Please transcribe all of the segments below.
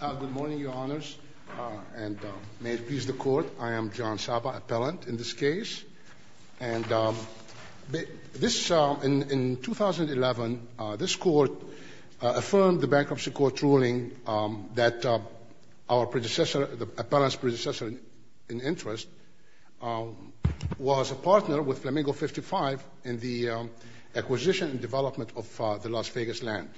Good morning, Your Honors, and may it please the Court, I am John Saba, appellant in this case. In 2011, this Court affirmed the Bankruptcy Court ruling that our predecessor, the appellant's predecessor in interest, was a partner with Flamingo 55 in the acquisition and development of the Las Vegas land.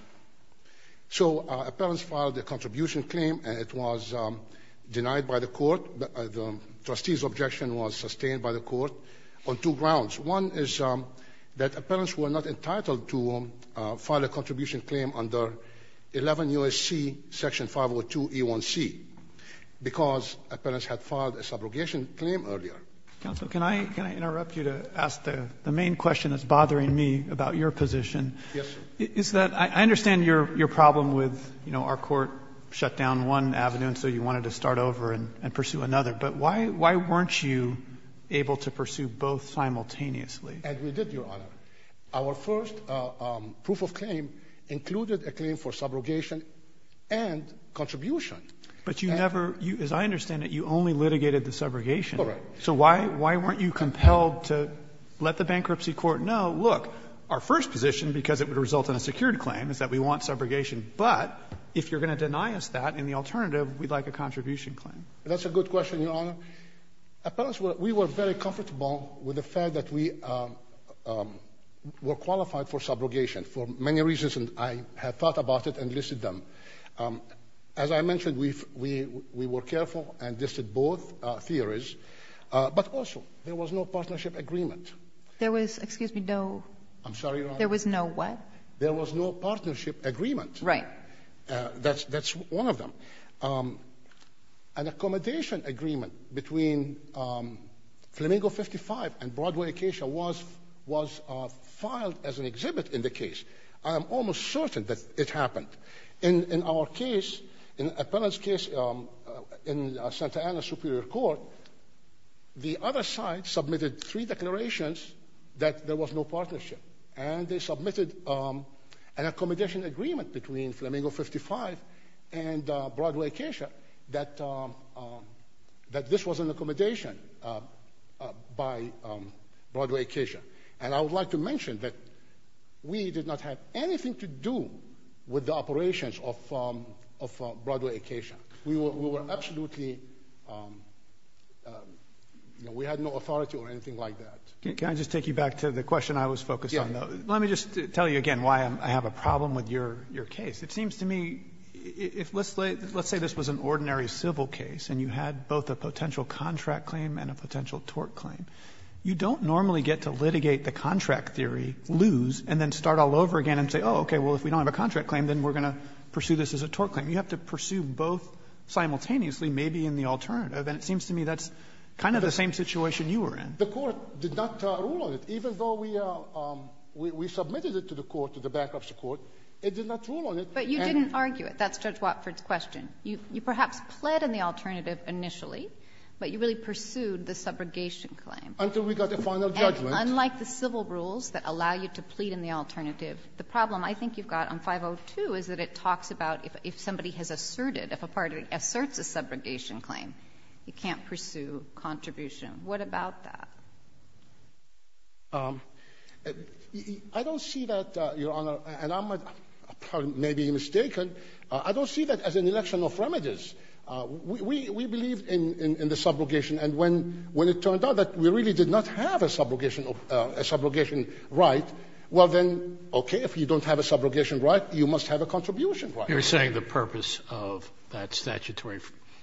So appellants filed a contribution claim and it was denied by the Court. The trustee's objection was sustained by the Court on two grounds. One is that appellants were not entitled to file a contribution claim under 11 U.S.C. section 502 E1C because appellants had filed a subrogation claim earlier. Counsel, can I interrupt you to ask the main question that's bothering me about your position? Yes, sir. It's that I understand your problem with, you know, our Court shut down one avenue and so you wanted to start over and pursue another. But why weren't you able to pursue both simultaneously? As we did, Your Honor. Our first proof of claim included a claim for subrogation and contribution. But you never – as I understand it, you only litigated the subrogation. All right. So why weren't you compelled to let the Bankruptcy Court know, look, our first position because it would result in a secured claim is that we want subrogation. But if you're going to deny us that in the alternative, we'd like a contribution claim. That's a good question, Your Honor. Appellants were – we were very comfortable with the fact that we were qualified for subrogation for many reasons, and I have thought about it and listed them. As I mentioned, we were careful and listed both theories. But also, there was no partnership agreement. There was – excuse me, no. I'm sorry, Your Honor. There was no what? There was no partnership agreement. Right. That's one of them. An accommodation agreement between Flamingo 55 and Broadway Acacia was filed as an exhibit in the case. I am almost certain that it happened. In our case, an appellant's case in Santa Ana Superior Court, the other side submitted three declarations that there was no partnership, and they submitted an accommodation agreement between Flamingo 55 and Broadway Acacia that this was an accommodation by Broadway Acacia. And I would like to mention that we did not have anything to do with the operations of Broadway Acacia. We were absolutely – we had no authority or anything like that. Can I just take you back to the question I was focused on? Yes. Let me just tell you again why I have a problem with your case. It seems to me if – let's say this was an ordinary civil case, and you had both a potential contract claim and a potential tort claim. You don't normally get to litigate the contract theory, lose, and then start all over again and say, oh, okay, well, if we don't have a contract claim, then we're going to pursue this as a tort claim. You have to pursue both simultaneously, maybe in the alternative. And it seems to me that's kind of the same situation you were in. The Court did not rule on it. Even though we submitted it to the Court, to the back-up support, it did not rule on it. But you didn't argue it. That's Judge Watford's question. You perhaps pled in the alternative initially, but you really pursued the subrogation claim. Until we got the final judgment. And unlike the civil rules that allow you to plead in the alternative, the problem I think you've got on 502 is that it talks about if somebody has asserted, if a party asserts a subrogation claim, you can't pursue contribution. What about that? I don't see that, Your Honor, and I may be mistaken. I don't see that as an election of remedies. We believe in the subrogation. And when it turned out that we really did not have a subrogation right, well, then, okay, if you don't have a subrogation right, you must have a contribution right. You're saying the purpose of that statutory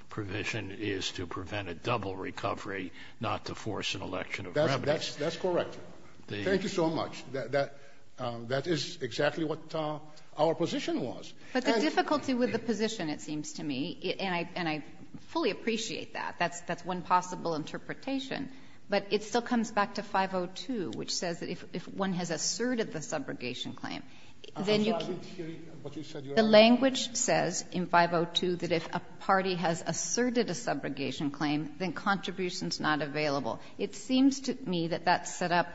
provision is to prevent a double recovery, not to force an election of remedies. That's correct. Thank you so much. That is exactly what our position was. But the difficulty with the position, it seems to me, and I fully appreciate that. That's one possible interpretation. But it still comes back to 502, which says that if one has asserted the subrogation claim, then you can't. The language says in 502 that if a party has asserted a subrogation claim, then contributions are not available. It seems to me that that's set up,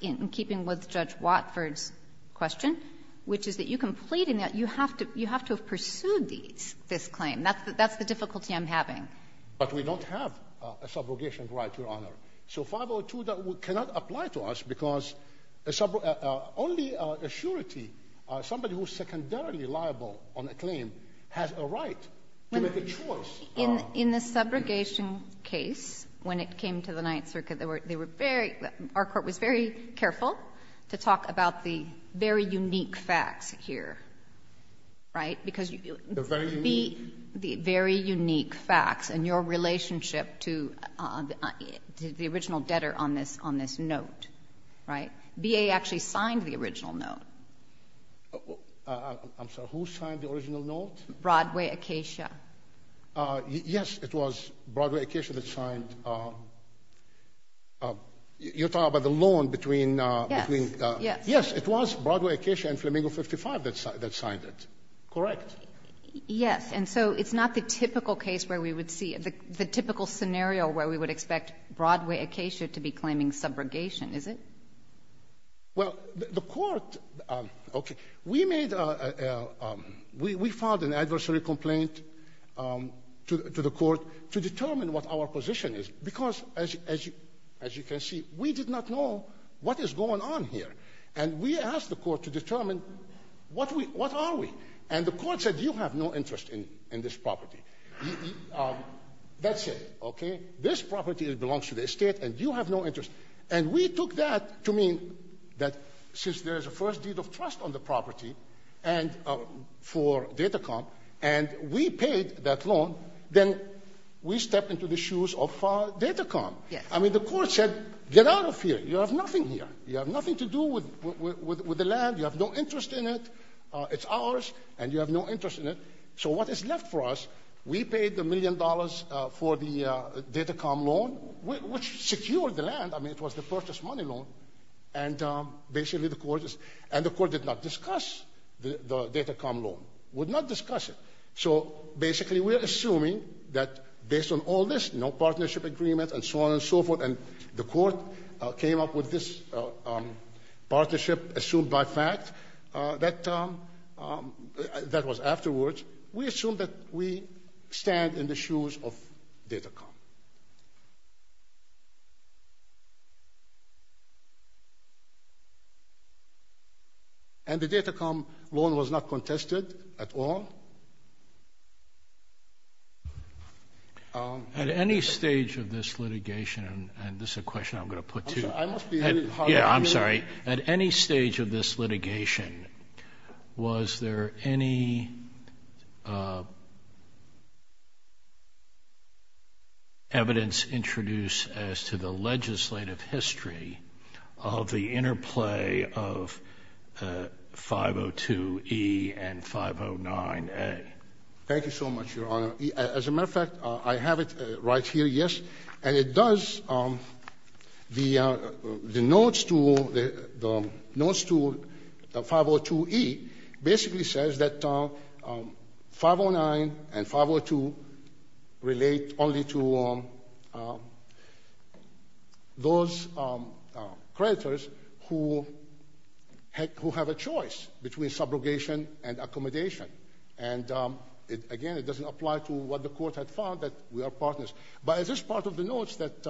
in keeping with Judge Watford's question, which is that you can plead in that. You have to have pursued this claim. That's the difficulty I'm having. But we don't have a subrogation right, Your Honor. So 502 cannot apply to us because only a surety, somebody who is secondarily liable on a claim, has a right to make a choice. In the subrogation case, when it came to the Ninth Circuit, our court was very careful to talk about the very unique facts here, right? The very unique? The very unique facts and your relationship to the original debtor on this note, right? BA actually signed the original note. I'm sorry. Who signed the original note? Broadway Acacia. Yes. It was Broadway Acacia that signed. You're talking about the loan between... Yes. Yes. Yes. It was Broadway Acacia and Flamingo 55 that signed it. Correct. Yes. And so it's not the typical case where we would see, the typical scenario where we would expect Broadway Acacia to be claiming subrogation, is it? Well, the court, okay, we made, we filed an adversary complaint to the court to determine what our position is because, as you can see, we did not know what is going on here. And we asked the court to determine what are we. And the court said, you have no interest in this property. That's it, okay? This property belongs to the estate and you have no interest. And we took that to mean that since there is a first deed of trust on the property for Datacomp, and we paid that loan, then we stepped into the shoes of Datacomp. Yes. I mean, the court said, get out of here. You have nothing here. You have nothing to do with the land. You have no interest in it. It's ours and you have no interest in it. So what is left for us, we paid the million dollars for the Datacomp loan, which secured the land. I mean, it was the purchase money loan. And basically the court is, and the court did not discuss the Datacomp loan, would not discuss it. So basically we're assuming that based on all this, no partnership agreement and so on and so forth, and the court came up with this partnership assumed by fact that was afterwards, we assume that we stand in the shoes of Datacomp. And the Datacomp loan was not contested at all. At any stage of this litigation, and this is a question I'm going to put to you. I'm sorry. At any stage of this litigation, was there any evidence introduced as to the legislative history of the interplay of 502E and 509A? Thank you so much, Your Honor. As a matter of fact, I have it right here, yes. And it does, the notes to 502E basically says that 509 and 502 relate only to those creditors who have a choice between subrogation and accommodation. And, again, it doesn't apply to what the court had found, that we are partners. But it is part of the notes that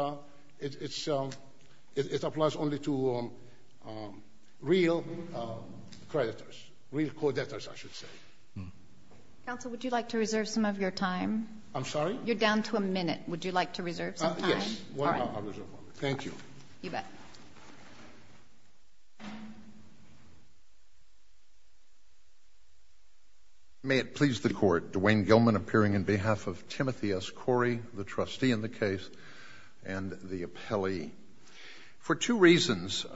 it applies only to real creditors, real co-debtors, I should say. Counsel, would you like to reserve some of your time? I'm sorry? You're down to a minute. Would you like to reserve some time? Yes. All right. Thank you. You bet. May it please the Court. Dwayne Gilman appearing on behalf of Timothy S. Corey, the trustee in the case, and the appellee. For two reasons,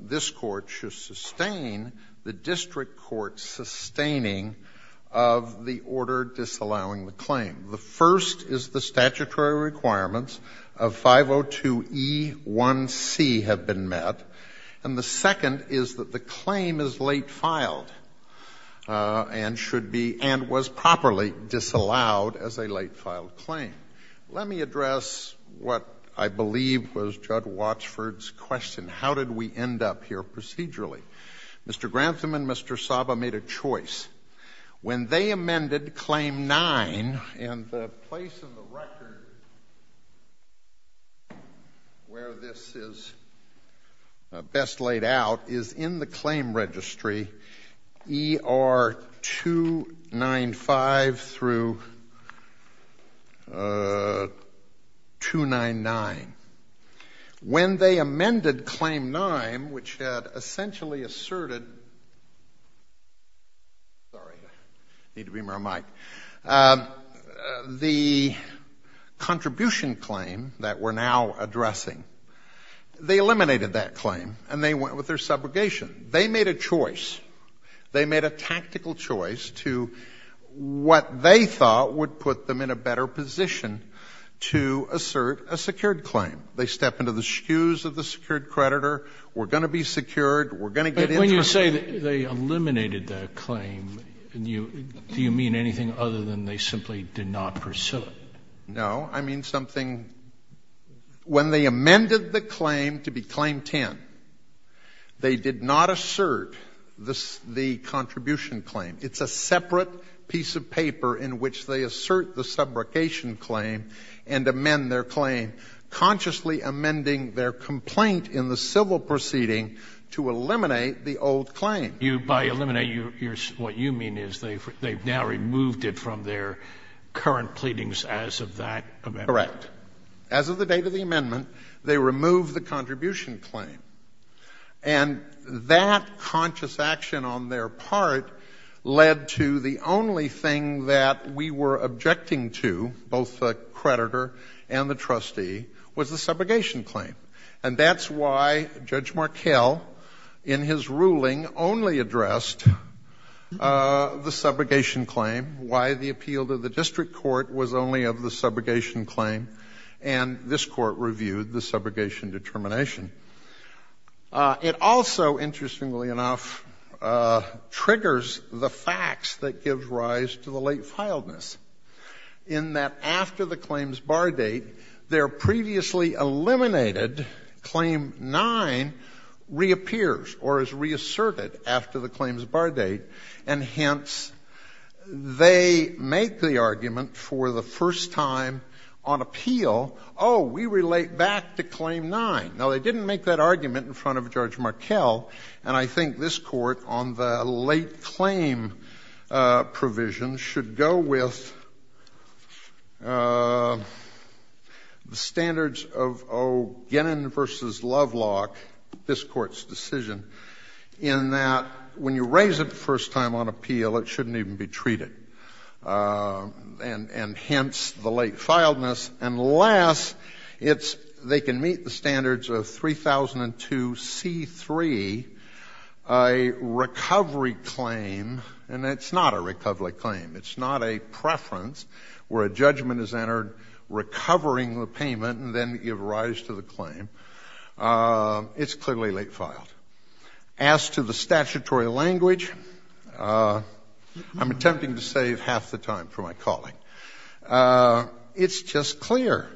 this Court should sustain the district court's sustaining of the order disallowing the claim. The first is the statutory requirements of 502E1C have been met. And the second is that the claim is late filed and should be and was properly disallowed as a late filed claim. Let me address what I believe was Judd Watsford's question. How did we end up here procedurally? Mr. Grantham and Mr. Saba made a choice. When they amended Claim 9, and the place in the record where this is best laid out is in the claim registry, ER 295 through 299. When they amended Claim 9, which had essentially asserted the contribution claim that we're now addressing, they eliminated that claim and they went with their subrogation. They made a choice. They made a tactical choice to what they thought would put them in a better position to assert a secured claim. They stepped into the shoes of the secured creditor. We're going to be secured. We're going to get interest. But when you say they eliminated that claim, do you mean anything other than they simply did not pursue it? No. I mean something — when they amended the claim to be Claim 10, they did not assert the contribution claim. It's a separate piece of paper in which they assert the subrogation claim and amend their claim, consciously amending their complaint in the civil proceeding to eliminate the old claim. By eliminate, what you mean is they've now removed it from their current pleadings as of that amendment? Correct. As of the date of the amendment, they removed the contribution claim. And that conscious action on their part led to the only thing that we were objecting to, both the creditor and the trustee, was the subrogation claim. And that's why Judge Markell, in his ruling, only addressed the subrogation claim, why the appeal to the district court was only of the subrogation claim, and this Court reviewed the subrogation determination. It also, interestingly enough, triggers the facts that give rise to the late filedness, in that after the claims bar date, their previously eliminated Claim 9 reappears or is reasserted after the claims bar date. And hence, they make the argument for the first time on appeal, oh, we relate back to Claim 9. Now, they didn't make that argument in front of Judge Markell. And I think this Court, on the late claim provision, should go with the standards of O'Gannon v. Lovelock, this Court's decision, in that when you raise it the first time on appeal, it shouldn't even be treated. And hence, the late filedness. And last, they can meet the standards of 3002c3, a recovery claim, and it's not a recovery claim. It's not a preference where a judgment is entered recovering the payment and then give rise to the claim. It's clearly late filed. As to the statutory language, I'm attempting to save half the time for my calling. It's just clear.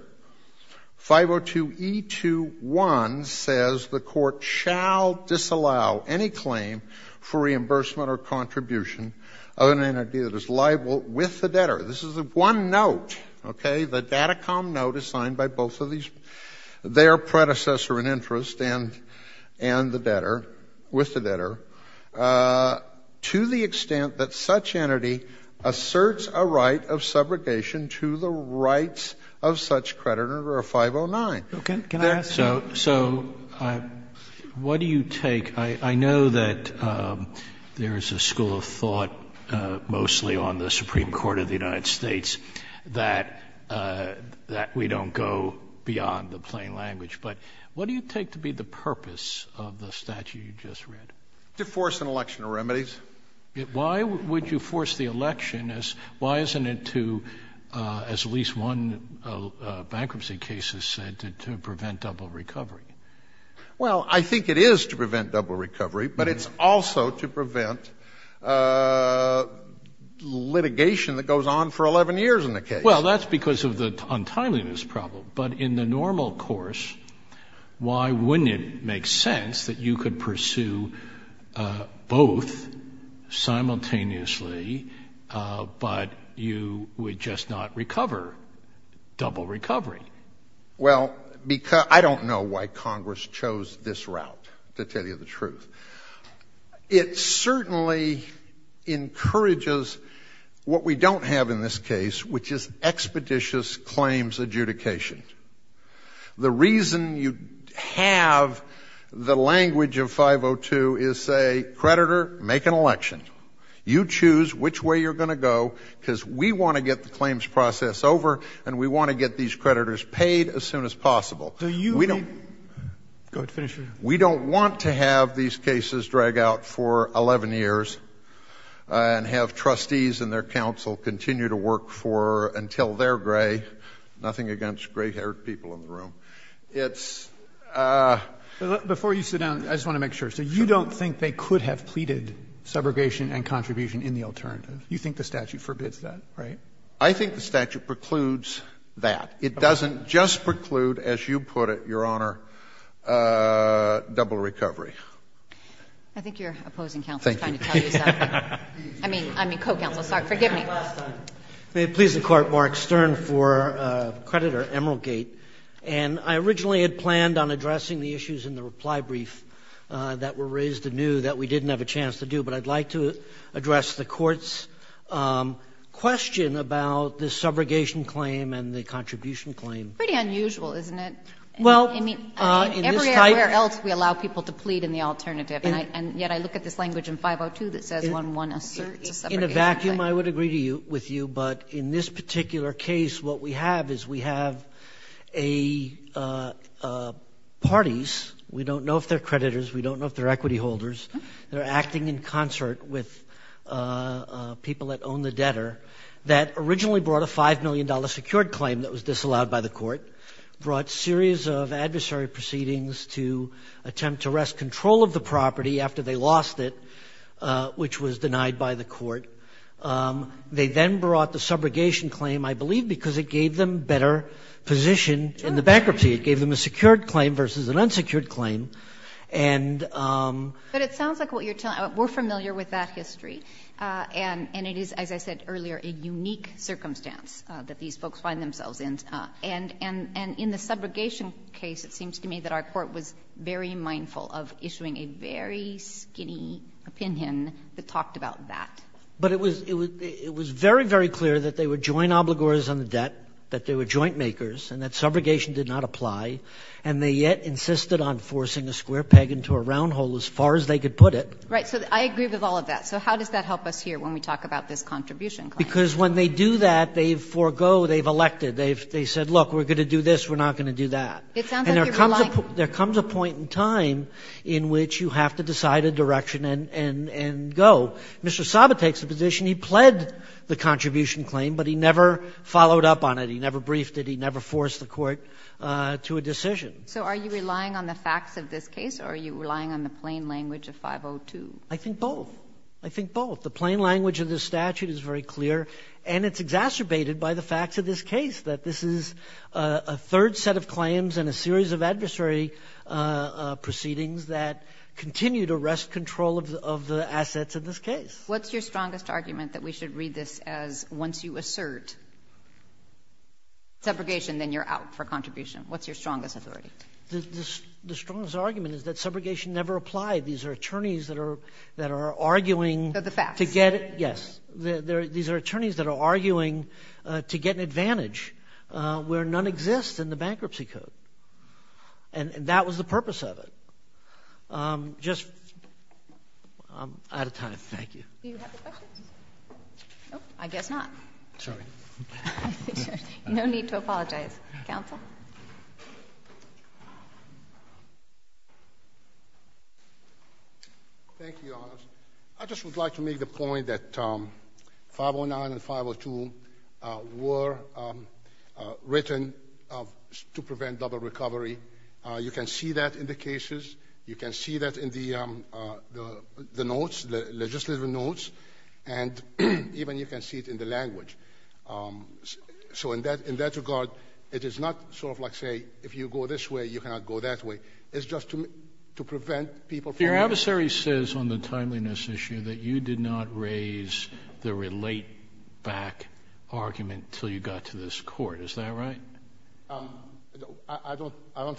502e21 says the Court shall disallow any claim for reimbursement or contribution of an entity that is liable with the debtor. This is one note, okay? The Datacom note is signed by both of these, their predecessor in interest and the debtor, with the debtor, to the extent that such entity asserts a right of subrogation to the rights of such creditor or 509. Roberts. Can I ask you? So what do you take? I know that there is a school of thought mostly on the Supreme Court of the United States that we don't go beyond the plain language. But what do you take to be the purpose of the statute you just read? To force an election of remedies. Why would you force the election? Why isn't it to, as at least one bankruptcy case has said, to prevent double recovery? Well, I think it is to prevent double recovery. But it's also to prevent litigation that goes on for 11 years in the case. Well, that's because of the untimeliness problem. But in the normal course, why wouldn't it make sense that you could pursue both simultaneously, but you would just not recover double recovery? Well, I don't know why Congress chose this route, to tell you the truth. It certainly encourages what we don't have in this case, which is expeditious claims adjudication. The reason you have the language of 502 is say, creditor, make an election. You choose which way you're going to go, because we want to get the claims process over, and we want to get these creditors paid as soon as possible. We don't want to have these cases. We don't want to have these cases drag out for 11 years and have trustees and their counsel continue to work for until they're gray, nothing against gray-haired people in the room. It's ‑‑ Before you sit down, I just want to make sure. So you don't think they could have pleaded subrogation and contribution in the alternative? You think the statute forbids that, right? I think the statute precludes that. It doesn't just preclude, as you put it, Your Honor, double recovery. I think your opposing counsel is trying to tell you something. I mean, co‑counsel. Sorry. Forgive me. May it please the Court, Mark Stern for creditor Emeraldgate. And I originally had planned on addressing the issues in the reply brief that were raised anew that we didn't have a chance to do, but I'd like to address the Court's question about the subrogation claim and the contribution claim. Pretty unusual, isn't it? Well, in this type ‑‑ I mean, everywhere else we allow people to plead in the alternative, and yet I look at this language in 502 that says, when one asserts a subrogation claim. In a vacuum, I would agree with you. But in this particular case, what we have is we have parties. We don't know if they're creditors. We don't know if they're equity holders. They're acting in concert with people that own the debtor. That originally brought a $5 million secured claim that was disallowed by the Court, brought a series of adversary proceedings to attempt to wrest control of the property after they lost it, which was denied by the Court. They then brought the subrogation claim, I believe, because it gave them a better position in the bankruptcy. It gave them a secured claim versus an unsecured claim. And ‑‑ But it sounds like what you're telling ‑‑ we're familiar with that history. And it is, as I said earlier, a unique circumstance that these folks find themselves in. And in the subrogation case, it seems to me that our Court was very mindful of issuing a very skinny opinion that talked about that. But it was very, very clear that they were joint obligors on the debt, that they were pushing a square peg into a round hole, as far as they could put it. Right. So I agree with all of that. So how does that help us here when we talk about this contribution claim? Because when they do that, they forego, they've elected. They've said, look, we're going to do this, we're not going to do that. It sounds like you're relying ‑‑ And there comes a point in time in which you have to decide a direction and go. Mr. Saba takes a position. He pled the contribution claim, but he never followed up on it. He never briefed it. He never forced the Court to a decision. So are you relying on the facts of this case, or are you relying on the plain language of 502? I think both. I think both. The plain language of this statute is very clear, and it's exacerbated by the facts of this case, that this is a third set of claims and a series of adversary proceedings that continue to wrest control of the assets of this case. What's your strongest argument that we should read this as once you assert subrogation, then you're out for contribution? What's your strongest authority? The strongest argument is that subrogation never applied. These are attorneys that are arguing ‑‑ They're the facts. Yes. These are attorneys that are arguing to get an advantage where none exists in the bankruptcy code. And that was the purpose of it. Just ‑‑ I'm out of time. Do you have a question? I guess not. Sorry. No need to apologize. Counsel? Thank you, Your Honors. I just would like to make the point that 509 and 502 were written to prevent double recovery. You can see that in the cases. You can see that in the notes, the legislative notes. And even you can see it in the language. So in that regard, it is not sort of like, say, if you go this way, you cannot go that way. It's just to prevent people from ‑‑ Your adversary says on the timeliness issue that you did not raise the relate back argument until you got to this court. Is that right? I don't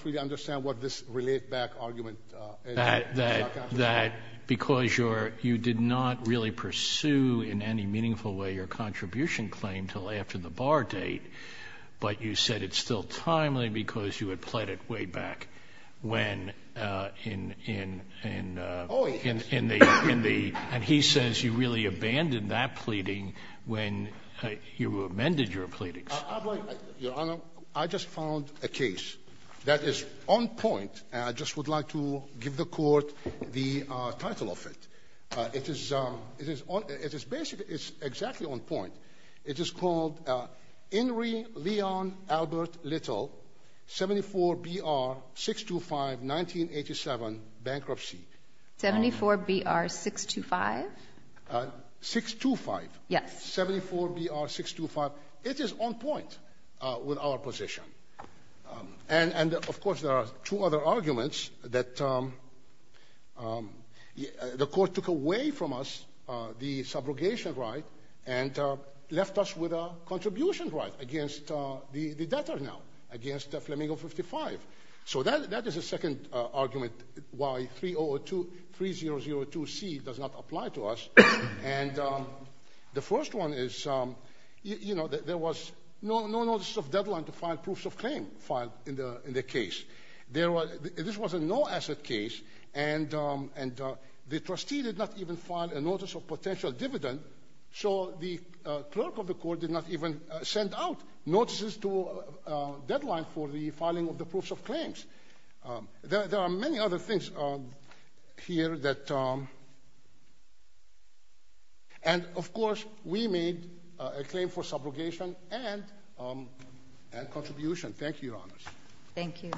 really understand what this relate back argument is. That because you did not really pursue in any meaningful way your contribution claim until after the bar date, but you said it's still timely because you had pled it way back when in the ‑‑ and he says you really abandoned that pleading when you amended your pleadings. Your Honor, I just found a case that is on point. And I just would like to give the court the title of it. It is basically exactly on point. It is called Henry Leon Albert Little, 74BR625, 1987, Bankruptcy. 74BR625? 625. Yes. 74BR625. It is on point with our position. And, of course, there are two other arguments that the court took away from us the subrogation right and left us with a contribution right against the debtor now, against Flamingo 55. So that is a second argument why 3002C does not apply to us. And the first one is, you know, there was no notice of deadline to file proofs of claim filed in the case. This was a no-asset case, and the trustee did not even file a notice of potential dividend, so the clerk of the court did not even send out notices to deadline for the filing of the proofs of claims. There are many other things here that—and, of course, we made a claim for subrogation and contribution. Thank you, Your Honors. Thank you.